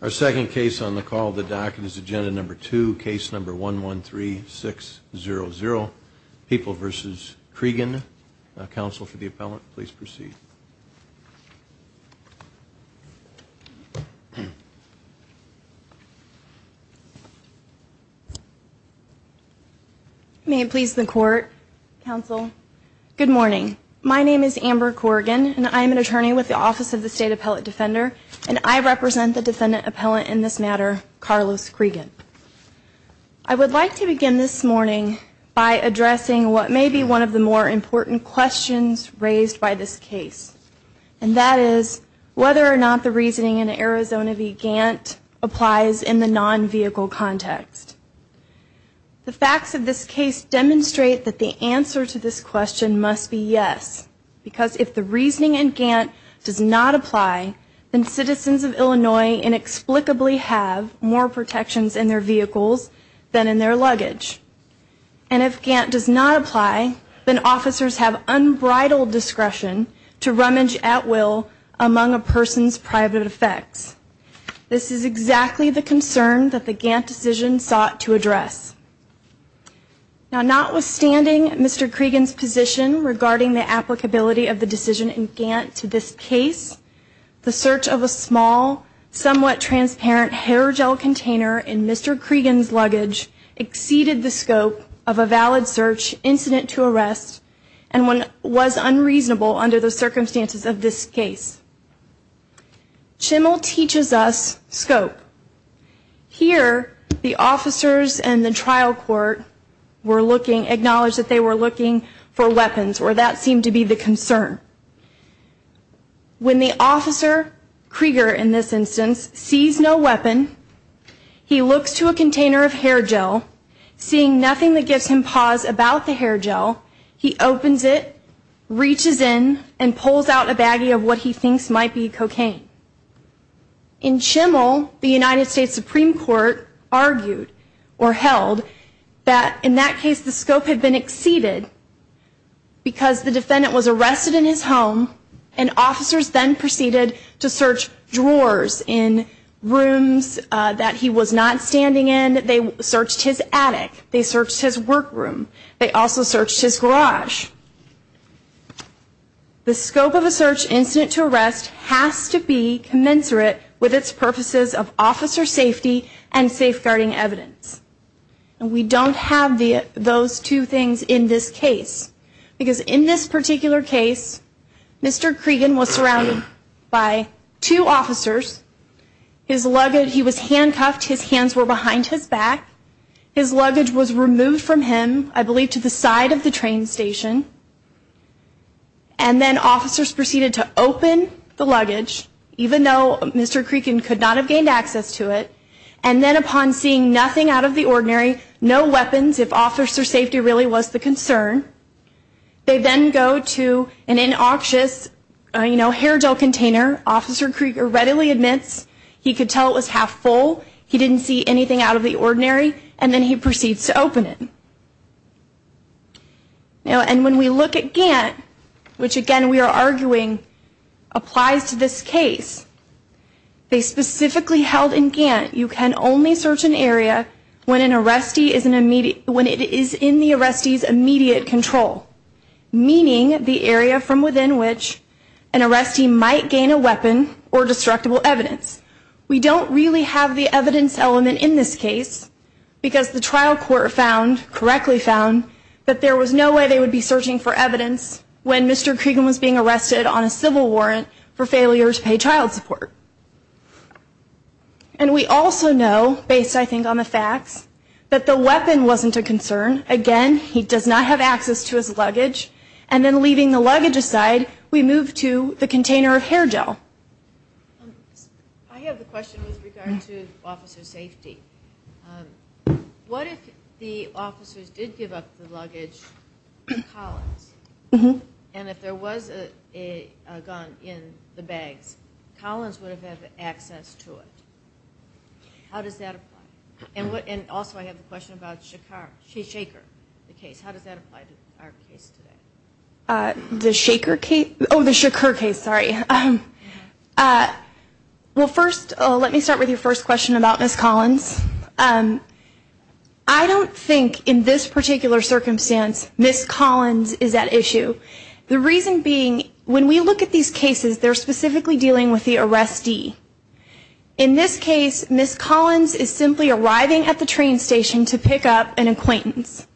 Our second case on the call of the docket is agenda number two, case number 113600, People v. Cregan. Counsel for the appellant, please proceed. May it please the Court, Counsel. Good morning. My name is Amber Corrigan and I am an attorney with the Office of the State Appellate Defender and I represent the defendant appellant in this matter, Carlos Cregan. I would like to begin this morning by addressing what may be one of the more important questions raised by this case, and that is whether or not the reasoning in Arizona v. Gantt applies in the non-vehicle context. The facts of this case demonstrate that the answer to this question must be yes, because if the reasoning in Gantt does not apply, then citizens of Illinois inexplicably have more protections in their vehicles than in their luggage. And if Gantt does not apply, then officers have unbridled discretion to rummage at will among a person's private effects. This is exactly the concern that the Gantt decision sought to address. Now, notwithstanding Mr. Cregan's position regarding the applicability of the decision in Gantt to this case, the search of a small, somewhat transparent hair gel container in Mr. Cregan's luggage exceeded the scope of a valid search incident to arrest and was unreasonable under the circumstances of this case. Chimmel teaches us scope. Here, the officers in the trial court were looking, acknowledged that they were looking for weapons, or that seemed to be the concern. When the officer, Krieger in this instance, sees no weapon, he looks to a container of hair gel, seeing nothing that gives him pause about the hair gel, he opens it, reaches in, and pulls out a baggie of what he thinks might be cocaine. In Chimmel, the United States Supreme Court argued, or held, that in that case the scope had been exceeded because the defendant was arrested in his home and officers then proceeded to search drawers in rooms that he was not standing in. They searched his attic. They searched his workroom. They also searched his garage. The scope of a search incident to arrest has to be commensurate with its purposes of officer safety and safeguarding evidence. And we don't have those two things in this case. Because in this particular case, Mr. Cregan was surrounded by two officers. His luggage, he was handcuffed. His hands were behind his back. His luggage was removed from him, I believe, to the side of the train station. And then officers proceeded to open the luggage, even though Mr. Cregan could not have gained access to it. And then upon seeing nothing out of the ordinary, no weapons, if officer safety really was the concern, they then go to an inoxious hair gel container. Officer Cregan readily admits he could tell it was half full. He didn't see anything out of the ordinary. And then he proceeds to open it. And when we look at Gantt, which again we are arguing applies to this case, they specifically held in Gantt, you can only search an area when it is in the arrestee's immediate control. Meaning the area from within which an arrestee might gain a weapon or destructible evidence. We don't really have the evidence element in this case, because the trial court found, correctly found, that there was no way they would be searching for evidence when Mr. Cregan was being arrested on a civil warrant for failure to pay child support. And we also know, based I think on the facts, that the weapon wasn't a concern. Again, he does not have access to his luggage. And then leaving the luggage aside, we move to the container of hair gel. I have a question with regard to officer safety. What if the officers did give up the luggage to Collins? And if there was a gun in the bags, Collins would have had access to it. How does that apply? And also I have a question about Shakur, the case. How does that apply to our case today? The Shakur case? Oh, the Shakur case, sorry. Well first, let me start with your first question about Ms. Collins. I don't think in this particular circumstance, Ms. Collins is at issue. The reason being, when we look at these cases, they're specifically dealing with the arrestee. In this case, Ms. Collins is simply arriving at the train station to pick up an acquaintance.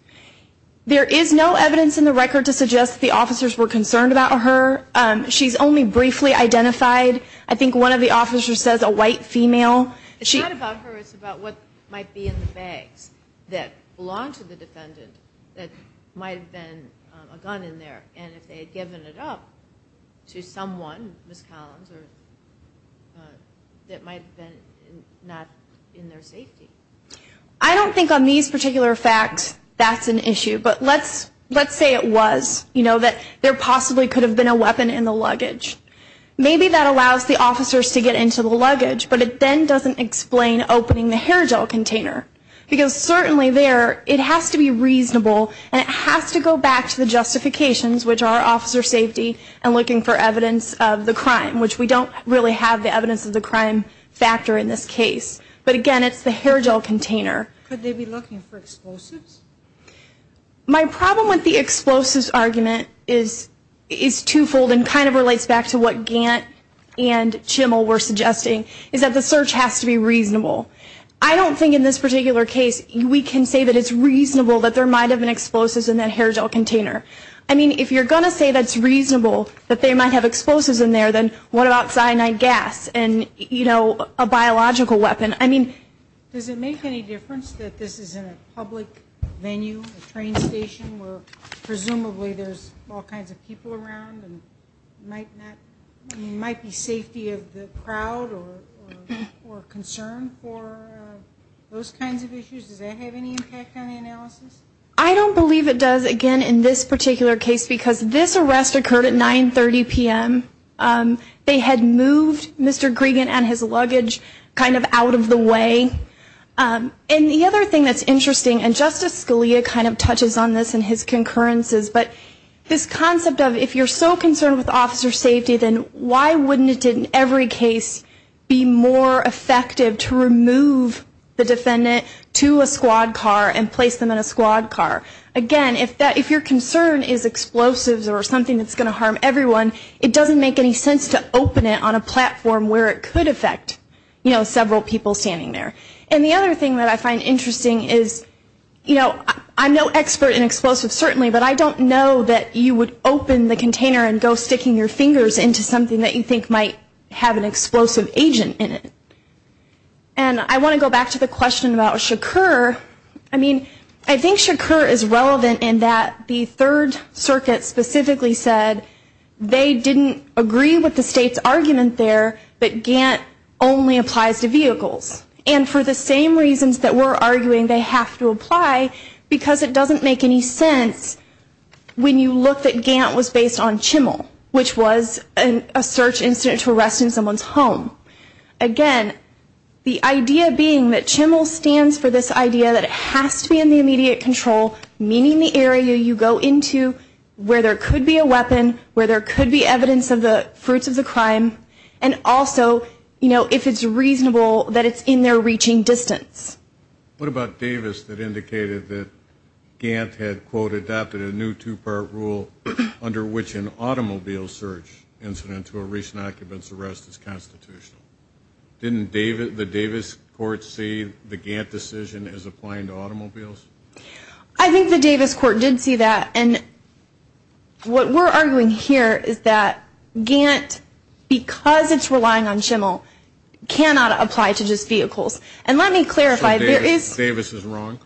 There is no evidence in the record to suggest the officers were concerned about her. She's only briefly identified. I think one of the officers says a white female. It's not about her, it's about what might be in the bags that belong to the defendant that might have been a gun in there. And if they had given it up to someone, Ms. Collins, that might have been not in their safety. I don't think on these particular facts, that's an issue. But let's say it was, that there possibly could have been a weapon in the luggage. Maybe that allows the officers to get into the luggage, but it then doesn't explain opening the hair gel container. Because certainly there, it has to be reasonable, and it has to go back to the justifications, which are officer safety and looking for evidence of the crime, which we don't really have the evidence of the crime factor in this case. But again, it's the hair gel container. My problem with the explosives argument is twofold, and kind of relates back to what Gant and Chimmel were suggesting, is that the search has to be reasonable. I don't think in this particular case we can say that it's reasonable that there might have been explosives in that hair gel container. I mean, if you're going to say that's reasonable, that they might have explosives in there, then what about cyanide gas and, you know, a biological weapon? I mean, does it make any difference that this is in a public venue, a train station, where presumably there's all kinds of people around and might be safety of the crowd or concern for those kinds of issues? Does that have any impact on the analysis? I don't believe it does, again, in this particular case, because this arrest occurred at 9.30 p.m. They had moved Mr. Gregan and his luggage kind of out of the way. And the other thing that's interesting, and Justice Scalia kind of touches on this in his concurrences, but this concept of if you're so concerned with officer safety, then why wouldn't it in every case be more effective to remove the defendant to a squad car and place them in a squad car? Again, if your concern is explosives or something that's going to harm everyone, it doesn't make any sense to open it on a platform where it could affect, you know, several people standing there. And the other thing that I find interesting is, you know, I'm no expert in explosives, certainly, but I don't know that you would open the container and go sticking your fingers into something that you think might have an explosive agent in it. And I want to go back to the question about Shakur. I mean, I think Shakur is relevant in that the Third Circuit specifically said they didn't agree with the State's argument there that GANT only applies to vehicles. And for the same reasons that we're arguing they have to apply, because it doesn't make any sense when you look that GANT was based on Chimel, which was a search incident to arrest in someone's home. Again, the idea being that Chimel stands for this idea that it has to be in the immediate control, meaning the area you go into where there could be a weapon, where there could be evidence of the fruits of the crime, and also, you know, if it's reasonable that it's in there reaching distance. What about Davis that indicated that GANT had, quote, adopted a new two-part rule under which an automobile search incident to a recent occupant's arrest is constitutional? Didn't the Davis court see the GANT decision as applying to automobiles? I think the Davis court did see that. And what we're arguing here is that GANT, because it's relying on Chimel, cannot apply to just vehicles. And let me clarify, there is... So Davis is wrong?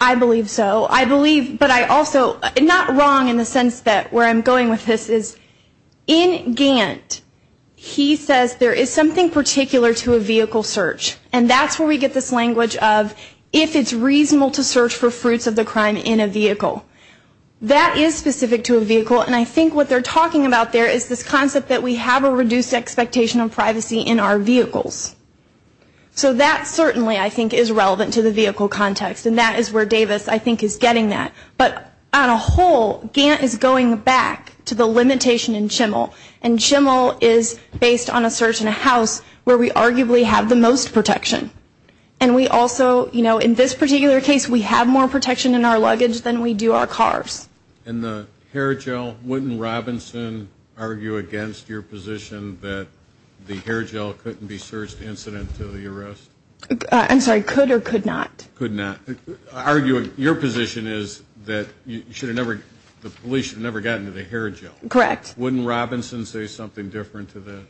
I believe so. I believe, but I also, not wrong in the sense that where I'm going with this is, in GANT, he says there is something particular to a vehicle search. And that's where we get this language of if it's reasonable to search for fruits of the crime in a vehicle. That is specific to a vehicle, and I think what they're talking about there is this concept that we have a reduced expectation of privacy in our vehicles. So that certainly, I think, is relevant to the vehicle context, and that is where Davis, I think, is getting that. But on a whole, GANT is going back to the limitation in Chimel, and Chimel is based on a search in a house where we arguably have the most protection. And we also, you know, in this particular case, we have more protection in our luggage than we do our cars. And the hair gel, wouldn't Robinson argue against your position that the hair gel couldn't be searched incident to the arrest? I'm sorry, could or could not? Could not. Arguing your position is that the police should have never gotten to the hair gel. Correct. Wouldn't Robinson say something different to that?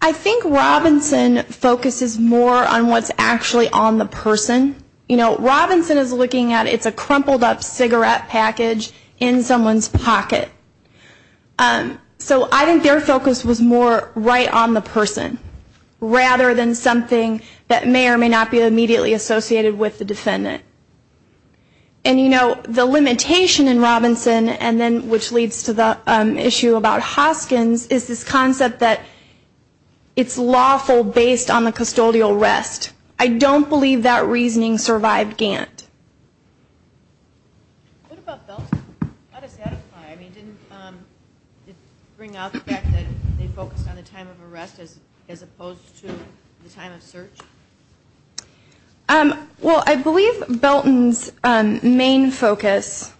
I think Robinson focuses more on what's actually on the person. You know, Robinson is looking at it's a crumpled up cigarette package in someone's pocket. So I think their focus was more right on the person rather than something that may or may not be immediately associated with the defendant. And, you know, the limitation in Robinson, and then which leads to the issue about Hoskins, is this concept that it's lawful based on the custodial arrest. I don't believe that reasoning survived GANT. What about Felton? How does that apply? I mean, didn't it bring out the fact that they focused on the time of arrest as opposed to the time of search? Well, I believe Felton's main focus,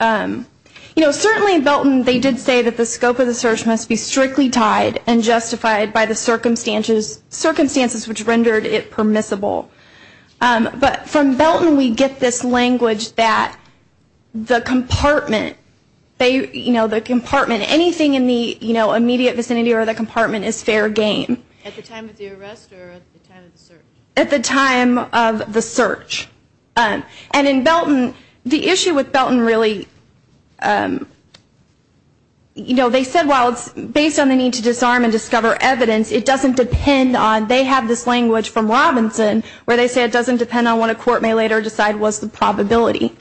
you know, certainly in Felton they did say that the scope of the search must be strictly tied and justified by the circumstances which rendered it permissible. But from Felton we get this language that the compartment, you know, the compartment, anything in the immediate vicinity or the compartment is fair game. At the time of the arrest or at the time of the search? At the time of the search. And in Felton, the issue with Felton really, you know, they said while it's based on the need to disarm and discover evidence, it doesn't depend on, they have this language from Robinson where they say it doesn't depend on what a court may later decide was the probability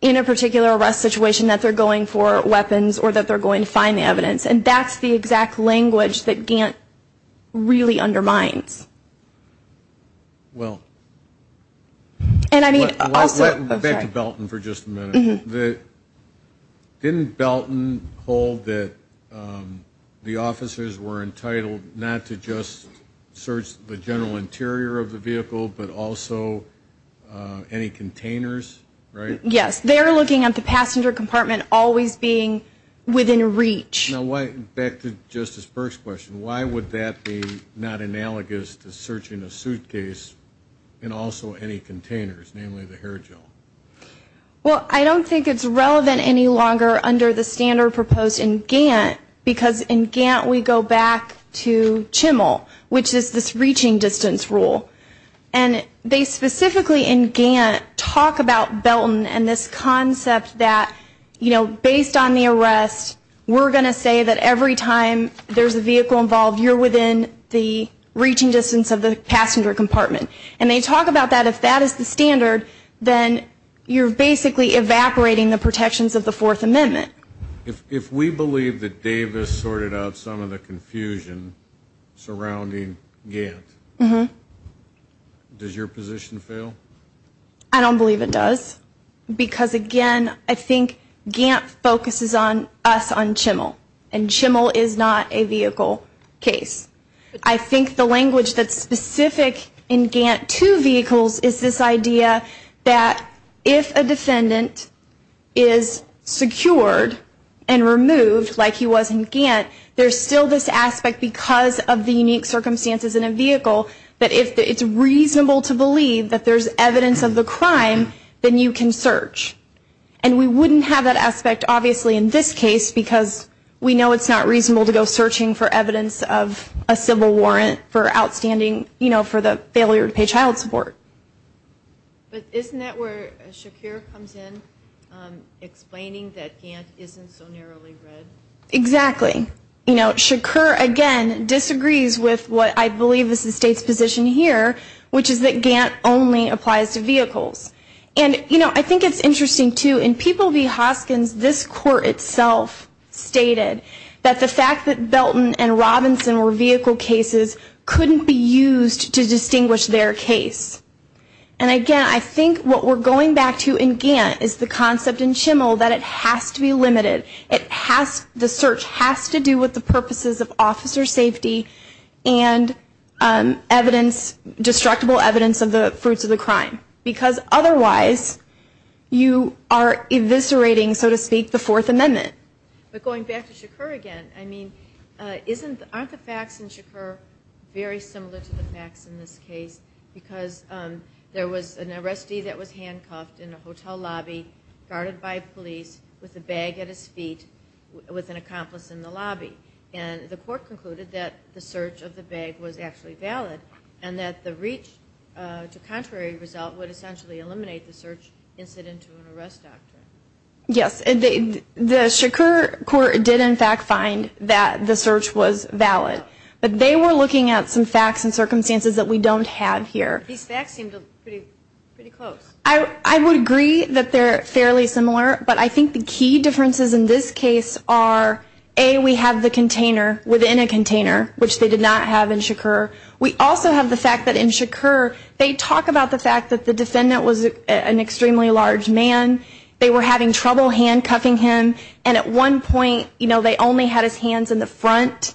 in a particular arrest situation that they're going for weapons or that they're going to find the evidence. And that's the exact language that Gant really undermines. Well. And I mean also. Back to Felton for just a minute. Didn't Felton hold that the officers were entitled not to just search the general interior of the vehicle but also any containers, right? Yes. They're looking at the passenger compartment always being within reach. Back to Justice Burke's question. Why would that be not analogous to searching a suitcase and also any containers, namely the hair gel? Well, I don't think it's relevant any longer under the standard proposed in Gant because in Gant we go back to CHML, which is this reaching distance rule. And they specifically in Gant talk about Felton and this concept that, you know, based on the arrest, we're going to say that every time there's a vehicle involved, you're within the reaching distance of the passenger compartment. And they talk about that. If that is the standard, then you're basically evaporating the protections of the Fourth Amendment. If we believe that Davis sorted out some of the confusion surrounding Gant, does your position fail? I don't believe it does because, again, I think Gant focuses on us on CHML, and CHML is not a vehicle case. I think the language that's specific in Gant to vehicles is this idea that if a defendant is secured and removed like he was in Gant, there's still this aspect because of the unique circumstances in a vehicle that if it's reasonable to believe that there's evidence of the crime, then you can search. And we wouldn't have that aspect, obviously, in this case because we know it's not reasonable to go searching for evidence of a civil warrant for outstanding, you know, for the failure to pay child support. But isn't that where Shakur comes in, explaining that Gant isn't so narrowly read? Exactly. You know, Shakur, again, disagrees with what I believe is the state's position here, which is that Gant only applies to vehicles. And, you know, I think it's interesting, too. In People v. Hoskins, this court itself stated that the fact that Belton and Robinson were vehicle cases couldn't be used to distinguish their case. And, again, I think what we're going back to in Gant is the concept in CHML that it has to be limited. The search has to do with the purposes of officer safety and evidence, destructible evidence of the fruits of the crime. Because otherwise, you are eviscerating, so to speak, the Fourth Amendment. But going back to Shakur again, I mean, aren't the facts in Shakur very similar to the facts in this case? Because there was an arrestee that was handcuffed in a hotel lobby, guarded by police, with a bag at his feet, with an accomplice in the lobby. And the court concluded that the search of the bag was actually valid and that the reach to contrary result would essentially eliminate the search incident to an arrest doctrine. Yes. The Shakur court did, in fact, find that the search was valid. But they were looking at some facts and circumstances that we don't have here. These facts seem pretty close. I would agree that they're fairly similar. But I think the key differences in this case are, A, we have the container within a container, which they did not have in Shakur. We also have the fact that in Shakur, they talk about the fact that the defendant was an extremely large man. They were having trouble handcuffing him. And at one point, you know, they only had his hands in the front.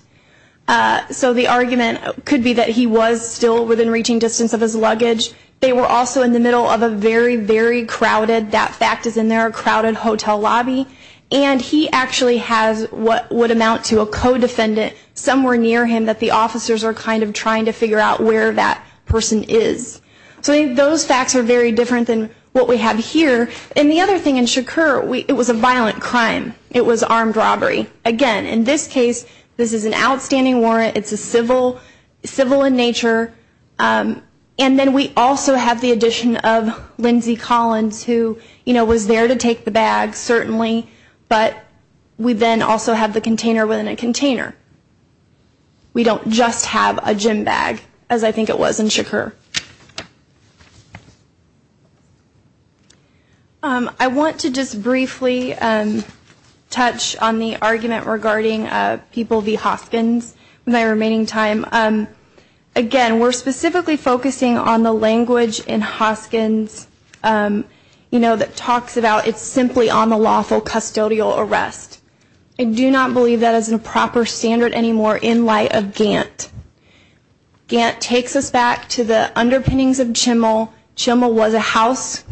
So the argument could be that he was still within reaching distance of his luggage. They were also in the middle of a very, very crowded, that fact is in there, a crowded hotel lobby. And he actually has what would amount to a co-defendant somewhere near him that the officers are kind of trying to figure out where that person is. So those facts are very different than what we have here. And the other thing in Shakur, it was a violent crime. It was armed robbery. Again, in this case, this is an outstanding warrant. It's a civil in nature. And then we also have the addition of Lindsey Collins, who, you know, was there to take the bag, certainly. But we then also have the container within a container. We don't just have a gym bag, as I think it was in Shakur. I want to just briefly touch on the argument regarding people v. Hoskins in my remaining time. Again, we're specifically focusing on the language in Hoskins, you know, that talks about it's simply on the lawful custodial arrest. I do not believe that is a proper standard anymore in light of Gant. Gant takes us back to the underpinnings of Chimel. Chimel was a house.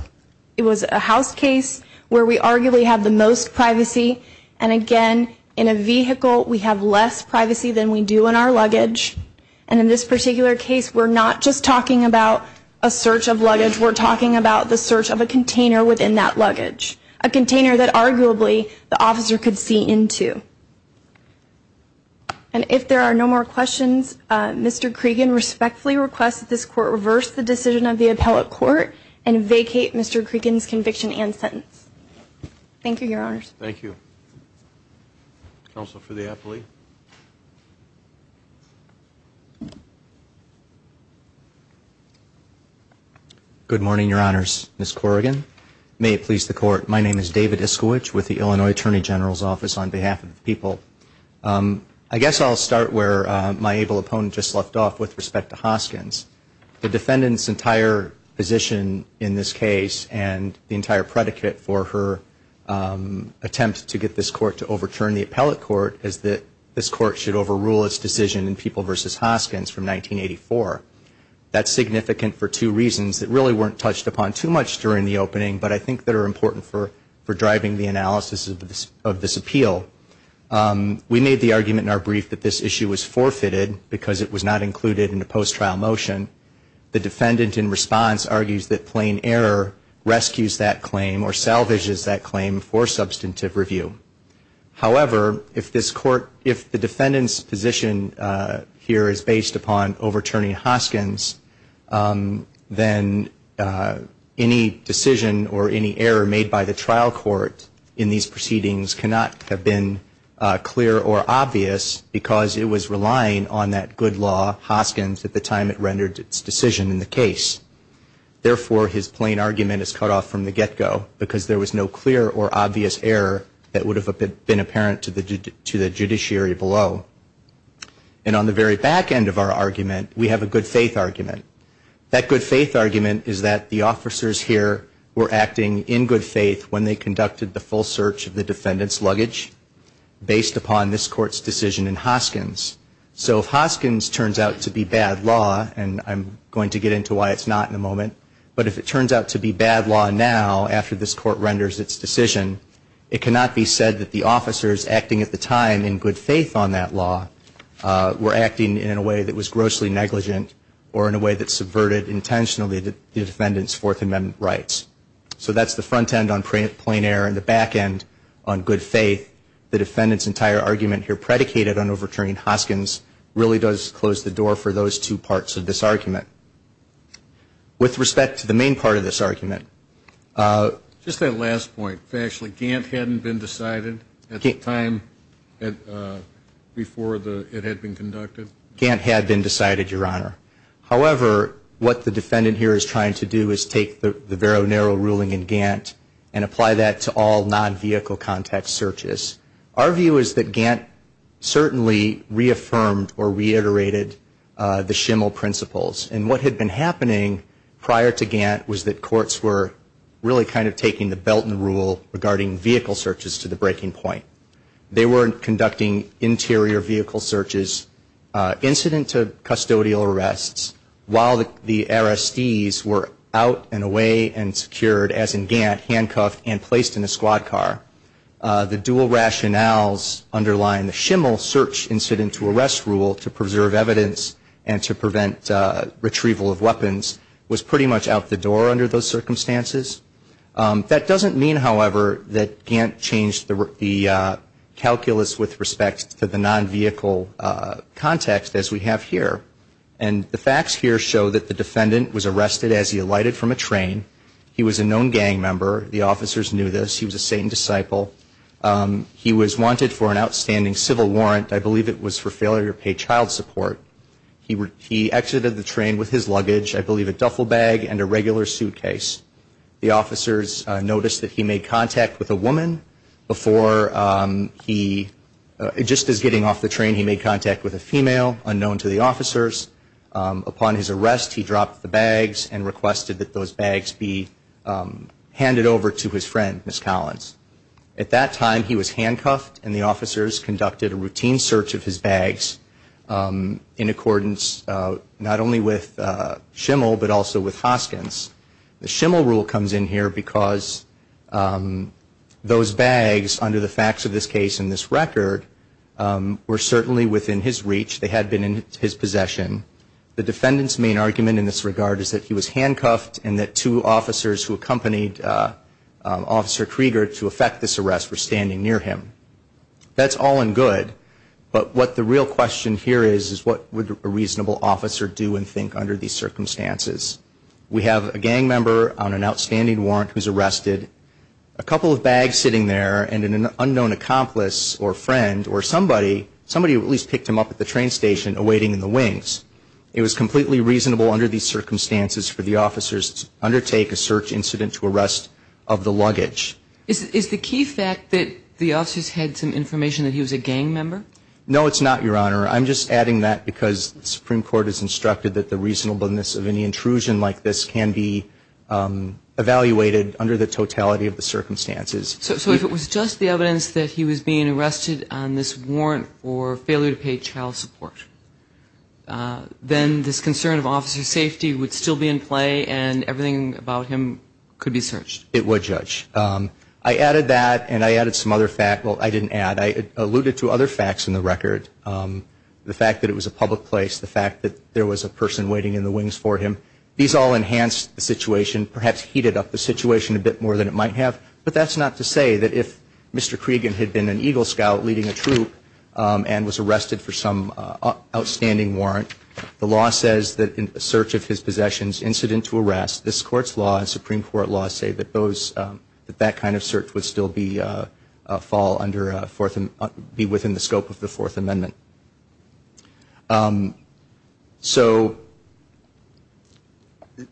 It was a house case where we arguably have the most privacy. And again, in a vehicle, we have less privacy than we do in our luggage. And in this particular case, we're not just talking about a search of luggage. We're talking about the search of a container within that luggage, a container that arguably the officer could see into. Thank you. And if there are no more questions, Mr. Cregan respectfully requests that this Court reverse the decision of the appellate court and vacate Mr. Cregan's conviction and sentence. Thank you, Your Honors. Thank you. Counsel for the appellee. Good morning, Your Honors. Ms. Corrigan, may it please the Court, my name is David Iskowich with the Illinois Attorney General's Office on behalf of the people. I guess I'll start where my able opponent just left off with respect to Hoskins. The defendant's entire position in this case and the entire predicate for her attempt to get this Court to overturn the appellate court is that this Court should overrule its decision in People v. Hoskins from 1984. That's significant for two reasons that really weren't touched upon too much during the opening but I think that are important for driving the analysis of this appeal. We made the argument in our brief that this issue was forfeited because it was not included in the post-trial motion. The defendant in response argues that plain error rescues that claim or salvages that claim for substantive review. However, if the defendant's position here is based upon overturning Hoskins, then any decision or any error made by the trial court in these proceedings cannot have been clear or obvious because it was relying on that good law, Hoskins, at the time it rendered its decision in the case. Therefore, his plain argument is cut off from the get-go because there was no clear or obvious error that would have been apparent to the judiciary below. And on the very back end of our argument, we have a good faith argument. That good faith argument is that the officers here were acting in good faith when they conducted the full search of the defendant's luggage based upon this Court's decision in Hoskins. So if Hoskins turns out to be bad law, and I'm going to get into why it's not in a moment, but if it turns out to be bad law now after this Court renders its decision, it cannot be said that the officers acting at the time in good faith on that law were acting in a way that was grossly negligent or in a way that subverted intentionally the defendant's Fourth Amendment rights. So that's the front end on plain error and the back end on good faith. The defendant's entire argument here predicated on overturning Hoskins really does close the door for those two parts of this argument. With respect to the main part of this argument. Just that last point. Actually, Gantt hadn't been decided at the time before it had been conducted? Gantt had been decided, Your Honor. However, what the defendant here is trying to do is take the vero nero ruling in Gantt and apply that to all non-vehicle contact searches. Our view is that Gantt certainly reaffirmed or reiterated the Schimel principles. And what had been happening prior to Gantt was that courts were really kind of taking the Belton rule regarding vehicle searches to the breaking point. They weren't conducting interior vehicle searches, incident to custodial arrests, while the RSDs were out and away and secured, as in Gantt, handcuffed and placed in a squad car. The dual rationales underlying the Schimel search incident to arrest rule to preserve evidence and to prevent retrieval of weapons was pretty much out the door under those circumstances. That doesn't mean, however, that Gantt changed the calculus with respect to the non-vehicle context, as we have here. And the facts here show that the defendant was arrested as he alighted from a train. He was a known gang member. The officers knew this. He was a Satan disciple. He was wanted for an outstanding civil warrant. I believe it was for failure to pay child support. He exited the train with his luggage, I believe a duffel bag and a regular suitcase. The officers noticed that he made contact with a woman before he, just as getting off the train, he made contact with a female, unknown to the officers. Upon his arrest, he dropped the bags and requested that those bags be handed over to his friend, Ms. Collins. At that time, he was handcuffed, and the officers conducted a routine search of his bags in accordance not only with Schimel, but also with Hoskins. The Schimel rule comes in here because those bags, under the facts of this case and this record, were certainly within his reach. They had been in his possession. The defendant's main argument in this regard is that he was handcuffed and that two officers who accompanied Officer Krieger to effect this arrest were standing near him. That's all and good, but what the real question here is, is what would a reasonable officer do and think under these circumstances? We have a gang member on an outstanding warrant who's arrested, a couple of bags sitting there, and an unknown accomplice or friend or somebody, somebody who at least picked him up at the train station, awaiting in the wings. It was completely reasonable under these circumstances for the officers to undertake a search incident to arrest of the luggage. Is the key fact that the officers had some information that he was a gang member? No, it's not, Your Honor. I'm just adding that because the Supreme Court has instructed that the reasonableness of any intrusion like this can be evaluated under the totality of the circumstances. So if it was just the evidence that he was being arrested on this warrant for failure to pay child support, then this concern of officer safety would still be in play and everything about him could be searched? It would, Judge. I added that and I added some other facts. Well, I didn't add. I alluded to other facts in the record, the fact that it was a public place, the fact that there was a person waiting in the wings for him. These all enhanced the situation, perhaps heated up the situation a bit more than it might have, but that's not to say that if Mr. Cregan had been an Eagle Scout leading a troop and was arrested for some outstanding warrant, the law says that in the search of his possessions incident to arrest, this Court's law and Supreme Court law say that that kind of search would still be within the scope of the Fourth Amendment. So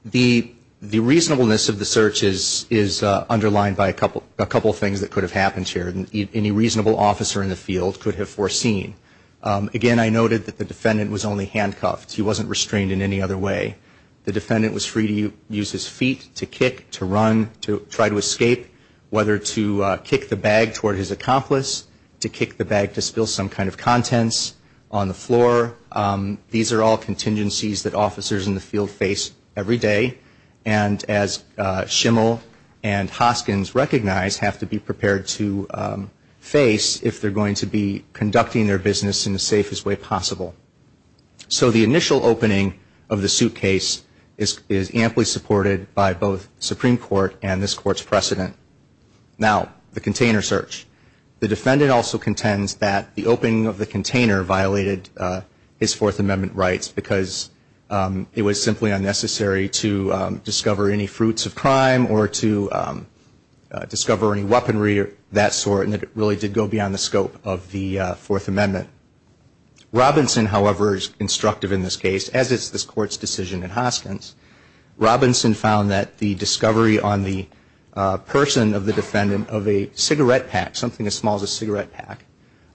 the reasonableness of the search is underlined by a couple of things that could have happened here. Any reasonable officer in the field could have foreseen. Again, I noted that the defendant was only handcuffed. He wasn't restrained in any other way. The defendant was free to use his feet to kick, to run, to try to escape, whether to kick the bag toward his accomplice, to kick the bag to spill some kind of contents on the floor. These are all contingencies that officers in the field face every day, and as Schimel and Hoskins recognize, have to be prepared to face if they're going to be conducting their business in the safest way possible. So the initial opening of the suitcase is amply supported by both Supreme Court and this Court's precedent. Now, the container search. The defendant also contends that the opening of the container violated his Fourth Amendment rights because it was simply unnecessary to discover any fruits of crime or to discover any weaponry of that sort, and it really did go beyond the scope of the Fourth Amendment. Robinson, however, is instructive in this case, as is this Court's decision in Hoskins. Robinson found that the discovery on the person of the defendant of a cigarette pack, something as small as a cigarette pack,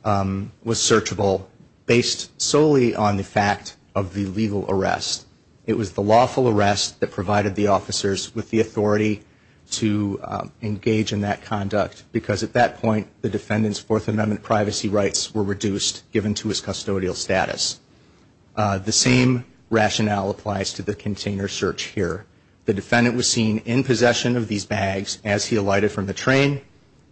was searchable based solely on the fact of the legal arrest. It was the lawful arrest that provided the officers with the authority to engage in that conduct because at that point the defendant's Fourth Amendment privacy rights were reduced, given to his custodial status. The same rationale applies to the container search here. The defendant was seen in possession of these bags as he alighted from the train.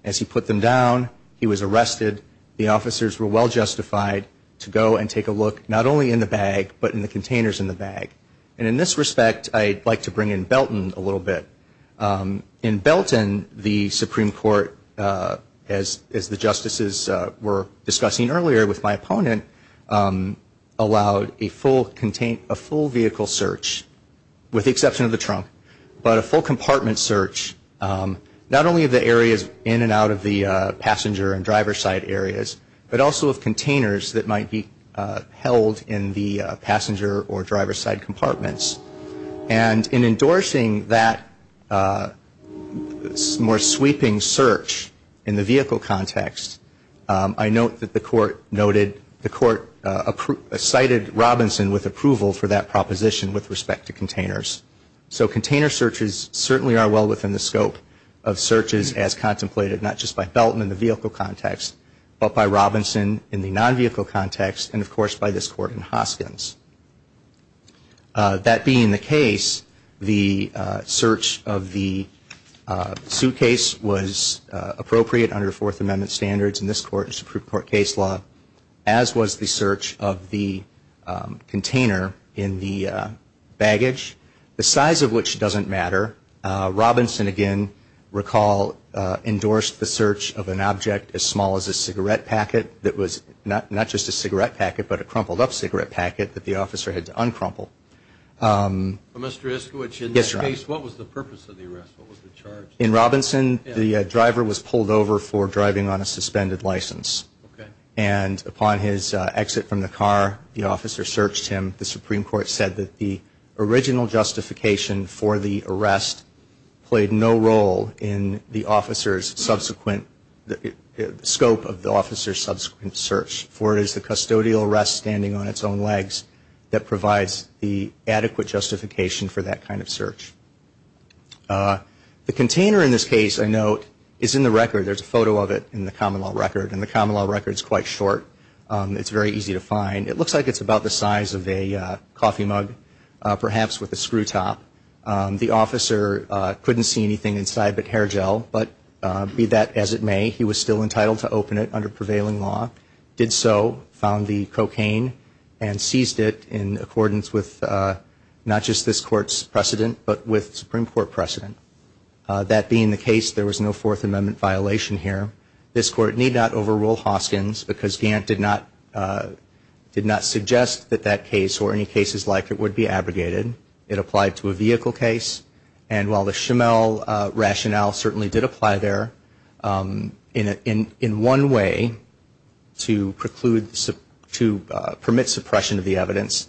As he put them down, he was arrested. The officers were well justified to go and take a look, not only in the bag, but in the containers in the bag. And in this respect, I'd like to bring in Belton a little bit. In Belton, the Supreme Court, as the justices were discussing earlier with my opponent, allowed a full vehicle search, with the exception of the trunk, but a full compartment search, not only of the areas in and out of the passenger and driver's side areas, but also of containers that might be held in the passenger or driver's side compartments. And in endorsing that more sweeping search in the vehicle context, I note that the court cited Robinson with approval for that proposition with respect to containers. So container searches certainly are well within the scope of searches as contemplated, not just by Belton in the vehicle context, but by Robinson in the non-vehicle context, and, of course, by this Court in Hoskins. That being the case, the search of the suitcase was appropriate under Fourth Amendment standards in this Supreme Court case law, as was the search of the container in the baggage, the size of which doesn't matter. Robinson, again, recall, endorsed the search of an object as small as a cigarette packet that was not just a cigarette packet, but a crumpled up cigarette packet that the officer had to uncrumple. Mr. Iskowich, in this case, what was the purpose of the arrest? What was the charge? In Robinson, the driver was pulled over for driving on a suspended license. And upon his exit from the car, the officer searched him. The Supreme Court said that the original justification for the arrest played no role in the officer's subsequent, the scope of the officer's subsequent search, for it is the custodial arrest standing on its own legs that provides the adequate justification for that kind of search. The container in this case, I note, is in the record. There's a photo of it in the common law record, and the common law record is quite short. It's very easy to find. It looks like it's about the size of a coffee mug, perhaps with a screw top. The officer couldn't see anything inside but hair gel, but be that as it may, he was still entitled to open it under prevailing law, did so, found the cocaine, and seized it in accordance with not just this Court's precedent, but with Supreme Court precedent. That being the case, there was no Fourth Amendment violation here. This Court need not overrule Hoskins because Gant did not suggest that that case or any cases like it would be abrogated. It applied to a vehicle case, and while the Schimel rationale certainly did apply there, in one way to preclude, to permit suppression of the evidence,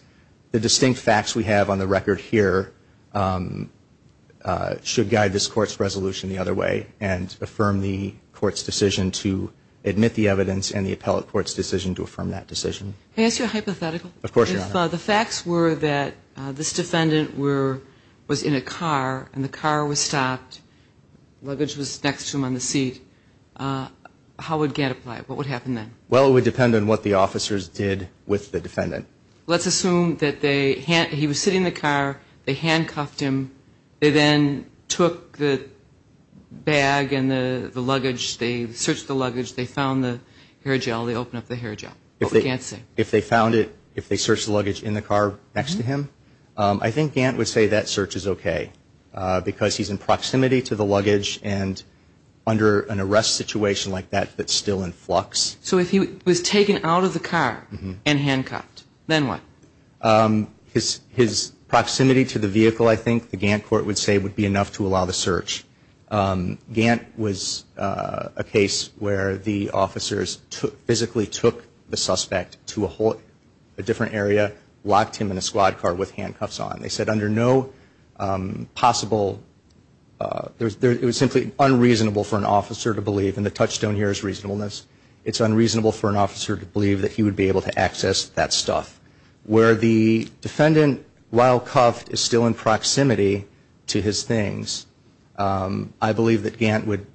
the distinct facts we have on the record here should guide this Court's resolution the other way and affirm the Court's decision to admit the evidence and the appellate court's decision to affirm that decision. Of course, Your Honor. If the facts were that this defendant was in a car and the car was stopped, luggage was next to him on the seat, how would Gant apply it? What would happen then? Well, it would depend on what the officers did with the defendant. Let's assume that he was sitting in the car, they handcuffed him, they then took the bag and the luggage, they searched the luggage, they found the hair gel, they opened up the hair gel, but we can't say. If they found it, if they searched the luggage in the car next to him, I think Gant would say that search is okay because he's in proximity to the luggage and under an arrest situation like that that's still in flux. So if he was taken out of the car and handcuffed, then what? His proximity to the vehicle, I think, the Gant court would say would be enough to allow the search. Gant was a case where the officers physically took the suspect to a different area, locked him in a squad car with handcuffs on. They said under no possible, it was simply unreasonable for an officer to believe, and the touchstone here is reasonableness, it's unreasonable for an officer to believe that he would be able to access that stuff. Where the defendant, while cuffed, is still in proximity to his things, I believe that Gant would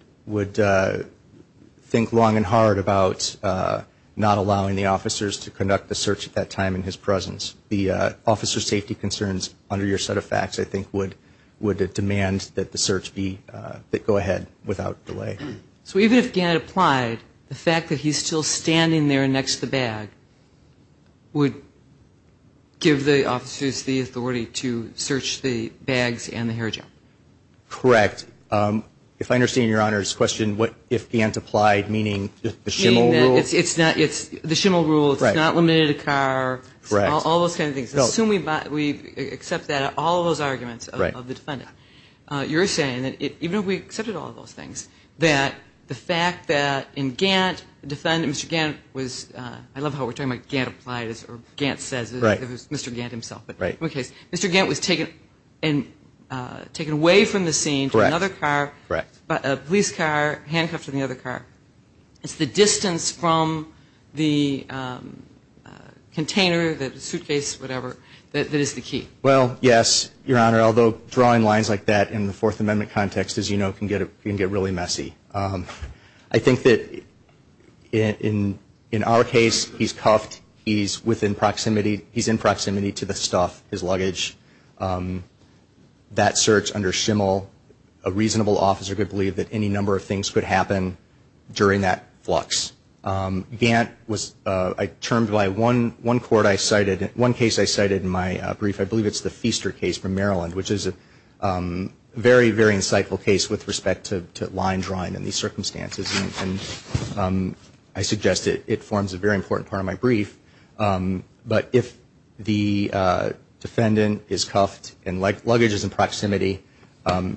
think long and hard about not allowing the officers to conduct the search at that time in his presence. The officer safety concerns under your set of facts, I think, would demand that the search go ahead without delay. So even if Gant applied, the fact that he's still standing there next to the bag would give the officers the authority to search the bags and the hair gel? Correct. If I understand Your Honor's question, what if Gant applied, meaning the shimmel rule? Meaning that it's not, the shimmel rule, it's not limited to the car, all those kind of things. Assuming we accept that, all those arguments of the defendant. You're saying that even if we accepted all those things, that the fact that in Gant, the defendant, Mr. Gant was, I love how we're talking about Gant applied, or Gant says it, it was Mr. Gant himself. Mr. Gant was taken away from the scene to another car by a police car, handcuffed to the other car. It's the distance from the container, the suitcase, whatever, that is the key. Well, yes, Your Honor, although drawing lines like that in the Fourth Amendment context, as you know, can get really messy. I think that in our case, he's cuffed, he's within proximity, he's in proximity to the stuff, his luggage. That search under shimmel, a reasonable officer could believe that any number of things could happen during that flux. Gant was termed by one court I cited, one case I cited in my brief, I believe it's the Feaster case from Maryland, which is a very, very insightful case with respect to line drawing in these circumstances. I suggest it. It forms a very important part of my brief. But if the defendant is cuffed and luggage is in proximity,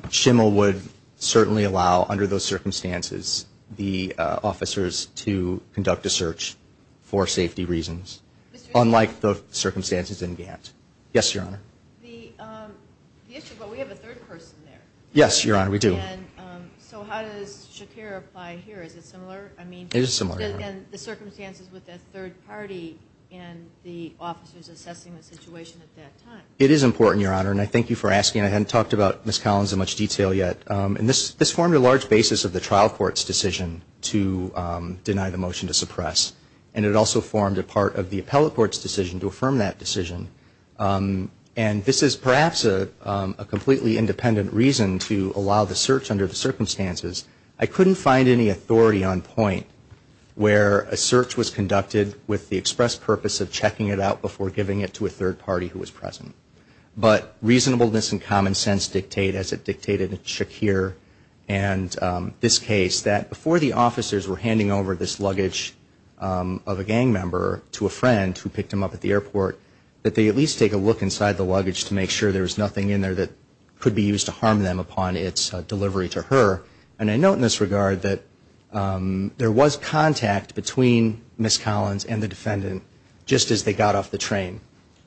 shimmel would certainly allow, under those circumstances, the officers to conduct a search for safety reasons, unlike the circumstances in Gant. Yes, Your Honor. The issue, but we have a third person there. Yes, Your Honor, we do. And so how does Shakir apply here? Is it similar? It is similar, Your Honor. And the circumstances with that third party and the officers assessing the situation at that time. It is important, Your Honor, and I thank you for asking. I hadn't talked about Ms. Collins in much detail yet. And this formed a large basis of the trial court's decision to deny the motion to suppress. And it also formed a part of the appellate court's decision to affirm that decision. And this is perhaps a completely independent reason to allow the search under the circumstances. I couldn't find any authority on point where a search was conducted with the express purpose of checking it out before giving it to a third party who was present. But reasonableness and common sense dictate, as it dictated in Shakir and this case, that before the officers were handing over this luggage of a gang member to a friend who picked him up at the airport, that they at least take a look inside the luggage to make sure there was nothing in there that could be used to harm them upon its delivery to her. And I note in this regard that there was contact between Ms. Collins and the defendant just as they got off the train.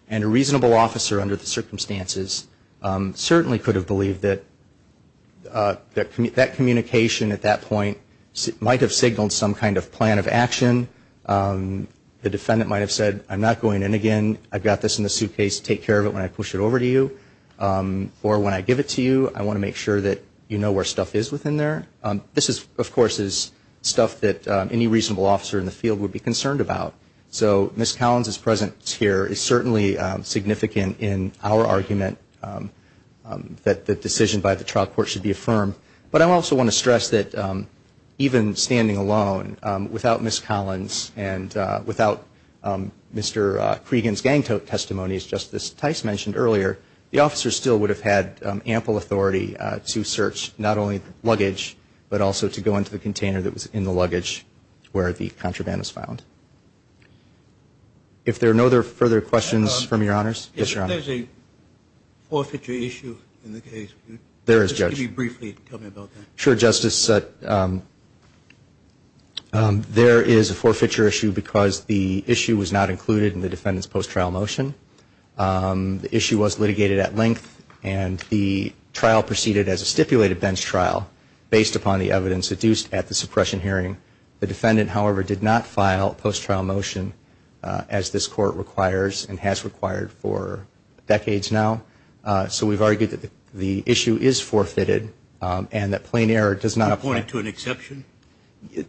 And a reasonable officer under the circumstances certainly could have believed that that communication at that point might have signaled some kind of plan of action. The defendant might have said, I'm not going in again. I've got this in the suitcase. Take care of it when I push it over to you. Or when I give it to you, I want to make sure that you know where stuff is within there. This, of course, is stuff that any reasonable officer in the field would be concerned about. So Ms. Collins' presence here is certainly significant in our argument that the decision by the trial court should be affirmed. But I also want to stress that even standing alone without Ms. Collins and without Mr. Cregan's gang tote testimony, as Justice Tice mentioned earlier, the officers still would have had ample authority to search not only the luggage but also to go into the container that was in the luggage where the contraband was found. If there are no further questions from Your Honors? Yes, Your Honor. Is there a forfeiture issue in the case? There is, Judge. Just give me briefly. Tell me about that. Sure, Justice. There is a forfeiture issue because the issue was not included in the defendant's post-trial motion. The issue was litigated at length and the trial proceeded as a stipulated bench trial based upon the evidence adduced at the suppression hearing. The defendant, however, did not file a post-trial motion as this court requires and has required for decades now. So we've argued that the issue is forfeited and that plain error does not apply. Do you point it to an exception?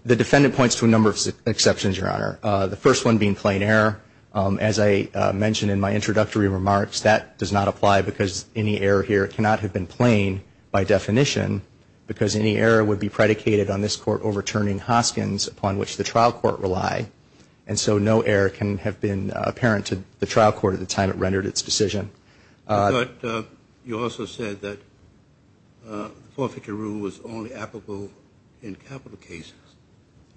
The defendant points to a number of exceptions, Your Honor, the first one being plain error. As I mentioned in my introductory remarks, that does not apply because any error here cannot have been plain by definition because any error would be predicated on this court overturning Hoskins upon which the trial court relied. And so no error can have been apparent to the trial court at the time it rendered its decision. But you also said that the forfeiture rule was only applicable in capital cases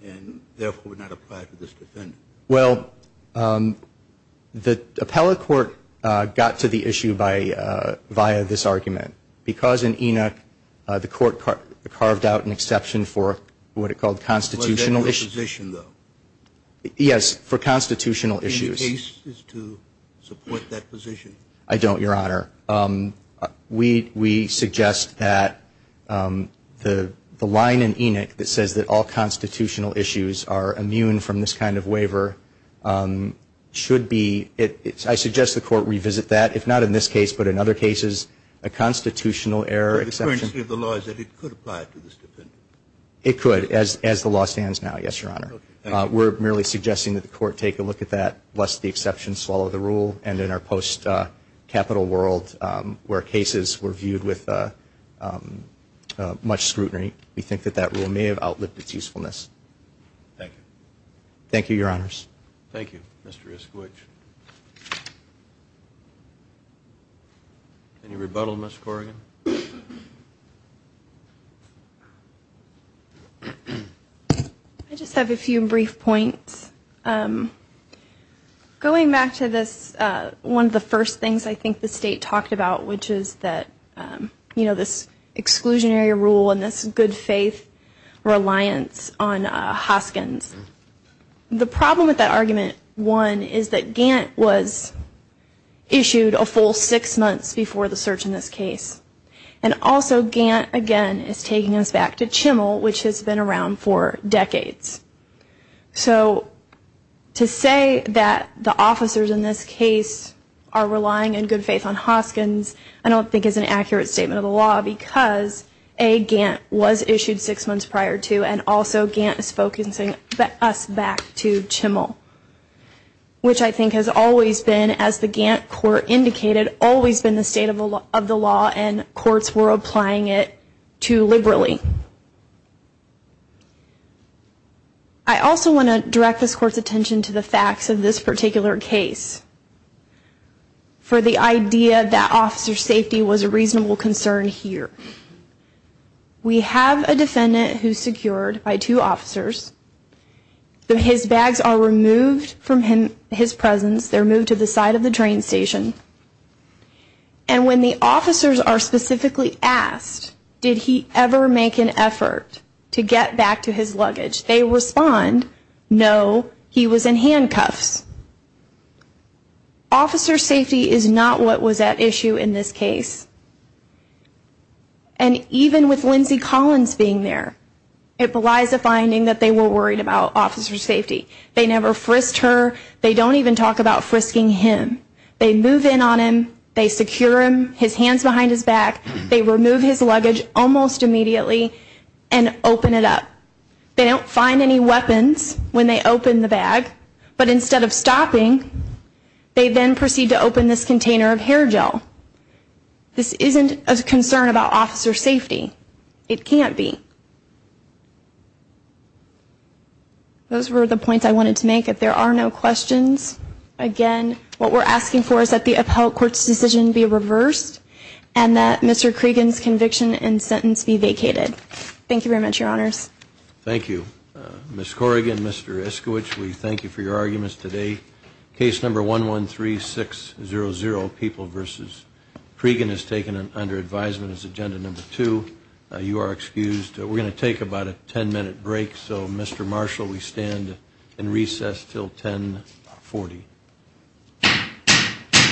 and therefore would not apply to this defendant. Well, the appellate court got to the issue via this argument. Because in Enoch, the court carved out an exception for what it called constitutional issues. For a general position, though? Yes, for constitutional issues. Any cases to support that position? I don't, Your Honor. We suggest that the line in Enoch that says that all constitutional issues are immune from this kind of waiver should be, I suggest the court revisit that. If not in this case, but in other cases, a constitutional error exception. But the currency of the law is that it could apply to this defendant? It could, as the law stands now, yes, Your Honor. Okay. We're merely suggesting that the court take a look at that lest the exception swallow the rule. And in our post-capital world where cases were viewed with much scrutiny, we think that that rule may have outlived its usefulness. Thank you. Thank you, Your Honors. Thank you, Mr. Iskowich. Any rebuttal, Ms. Corrigan? I just have a few brief points. Going back to this, one of the first things I think the State talked about, which is that, you know, this exclusionary rule and this good faith reliance on Hoskins. The problem with that argument, one, is that Gantt was issued a full six months before the search in this case. And also, Gantt, again, is taking us back to Chimmel, which has been around for decades. So to say that the officers in this case are relying in good faith on Hoskins, I don't think is an accurate statement of the law because, A, Gantt was issued six months prior to, and also Gantt is focusing us back to Chimmel, which I think has always been, as the Gantt court indicated, always been the state of the law and courts were applying it too liberally. I also want to direct this court's attention to the facts of this particular case. For the idea that officer safety was a reasonable concern here. We have a defendant who is secured by two officers. His bags are removed from his presence. They are moved to the side of the train station. And when the officers are specifically asked, did he ever make an effort to get back to his luggage, they respond, no, he was in handcuffs. Officer safety is not what was at issue in this case. And even with Lindsey Collins being there, it belies a finding that they were worried about officer safety. They never frisked her. They don't even talk about frisking him. They move in on him. They secure him, his hands behind his back. They remove his luggage almost immediately and open it up. They don't find any weapons when they open the bag. But instead of stopping, they then proceed to open this container of hair gel. This isn't a concern about officer safety. It can't be. Those were the points I wanted to make. If there are no questions, again, what we're asking for is that the appellate court's decision be reversed and that Mr. Cregan's conviction and sentence be vacated. Thank you very much, Your Honors. Thank you. Ms. Corrigan, Mr. Iskowich, we thank you for your arguments today. Case number 113600, People v. Cregan, is taken under advisement as agenda number two. You are excused. We're going to take about a ten-minute break. So, Mr. Marshall, we stand in recess until 1040. Thank you.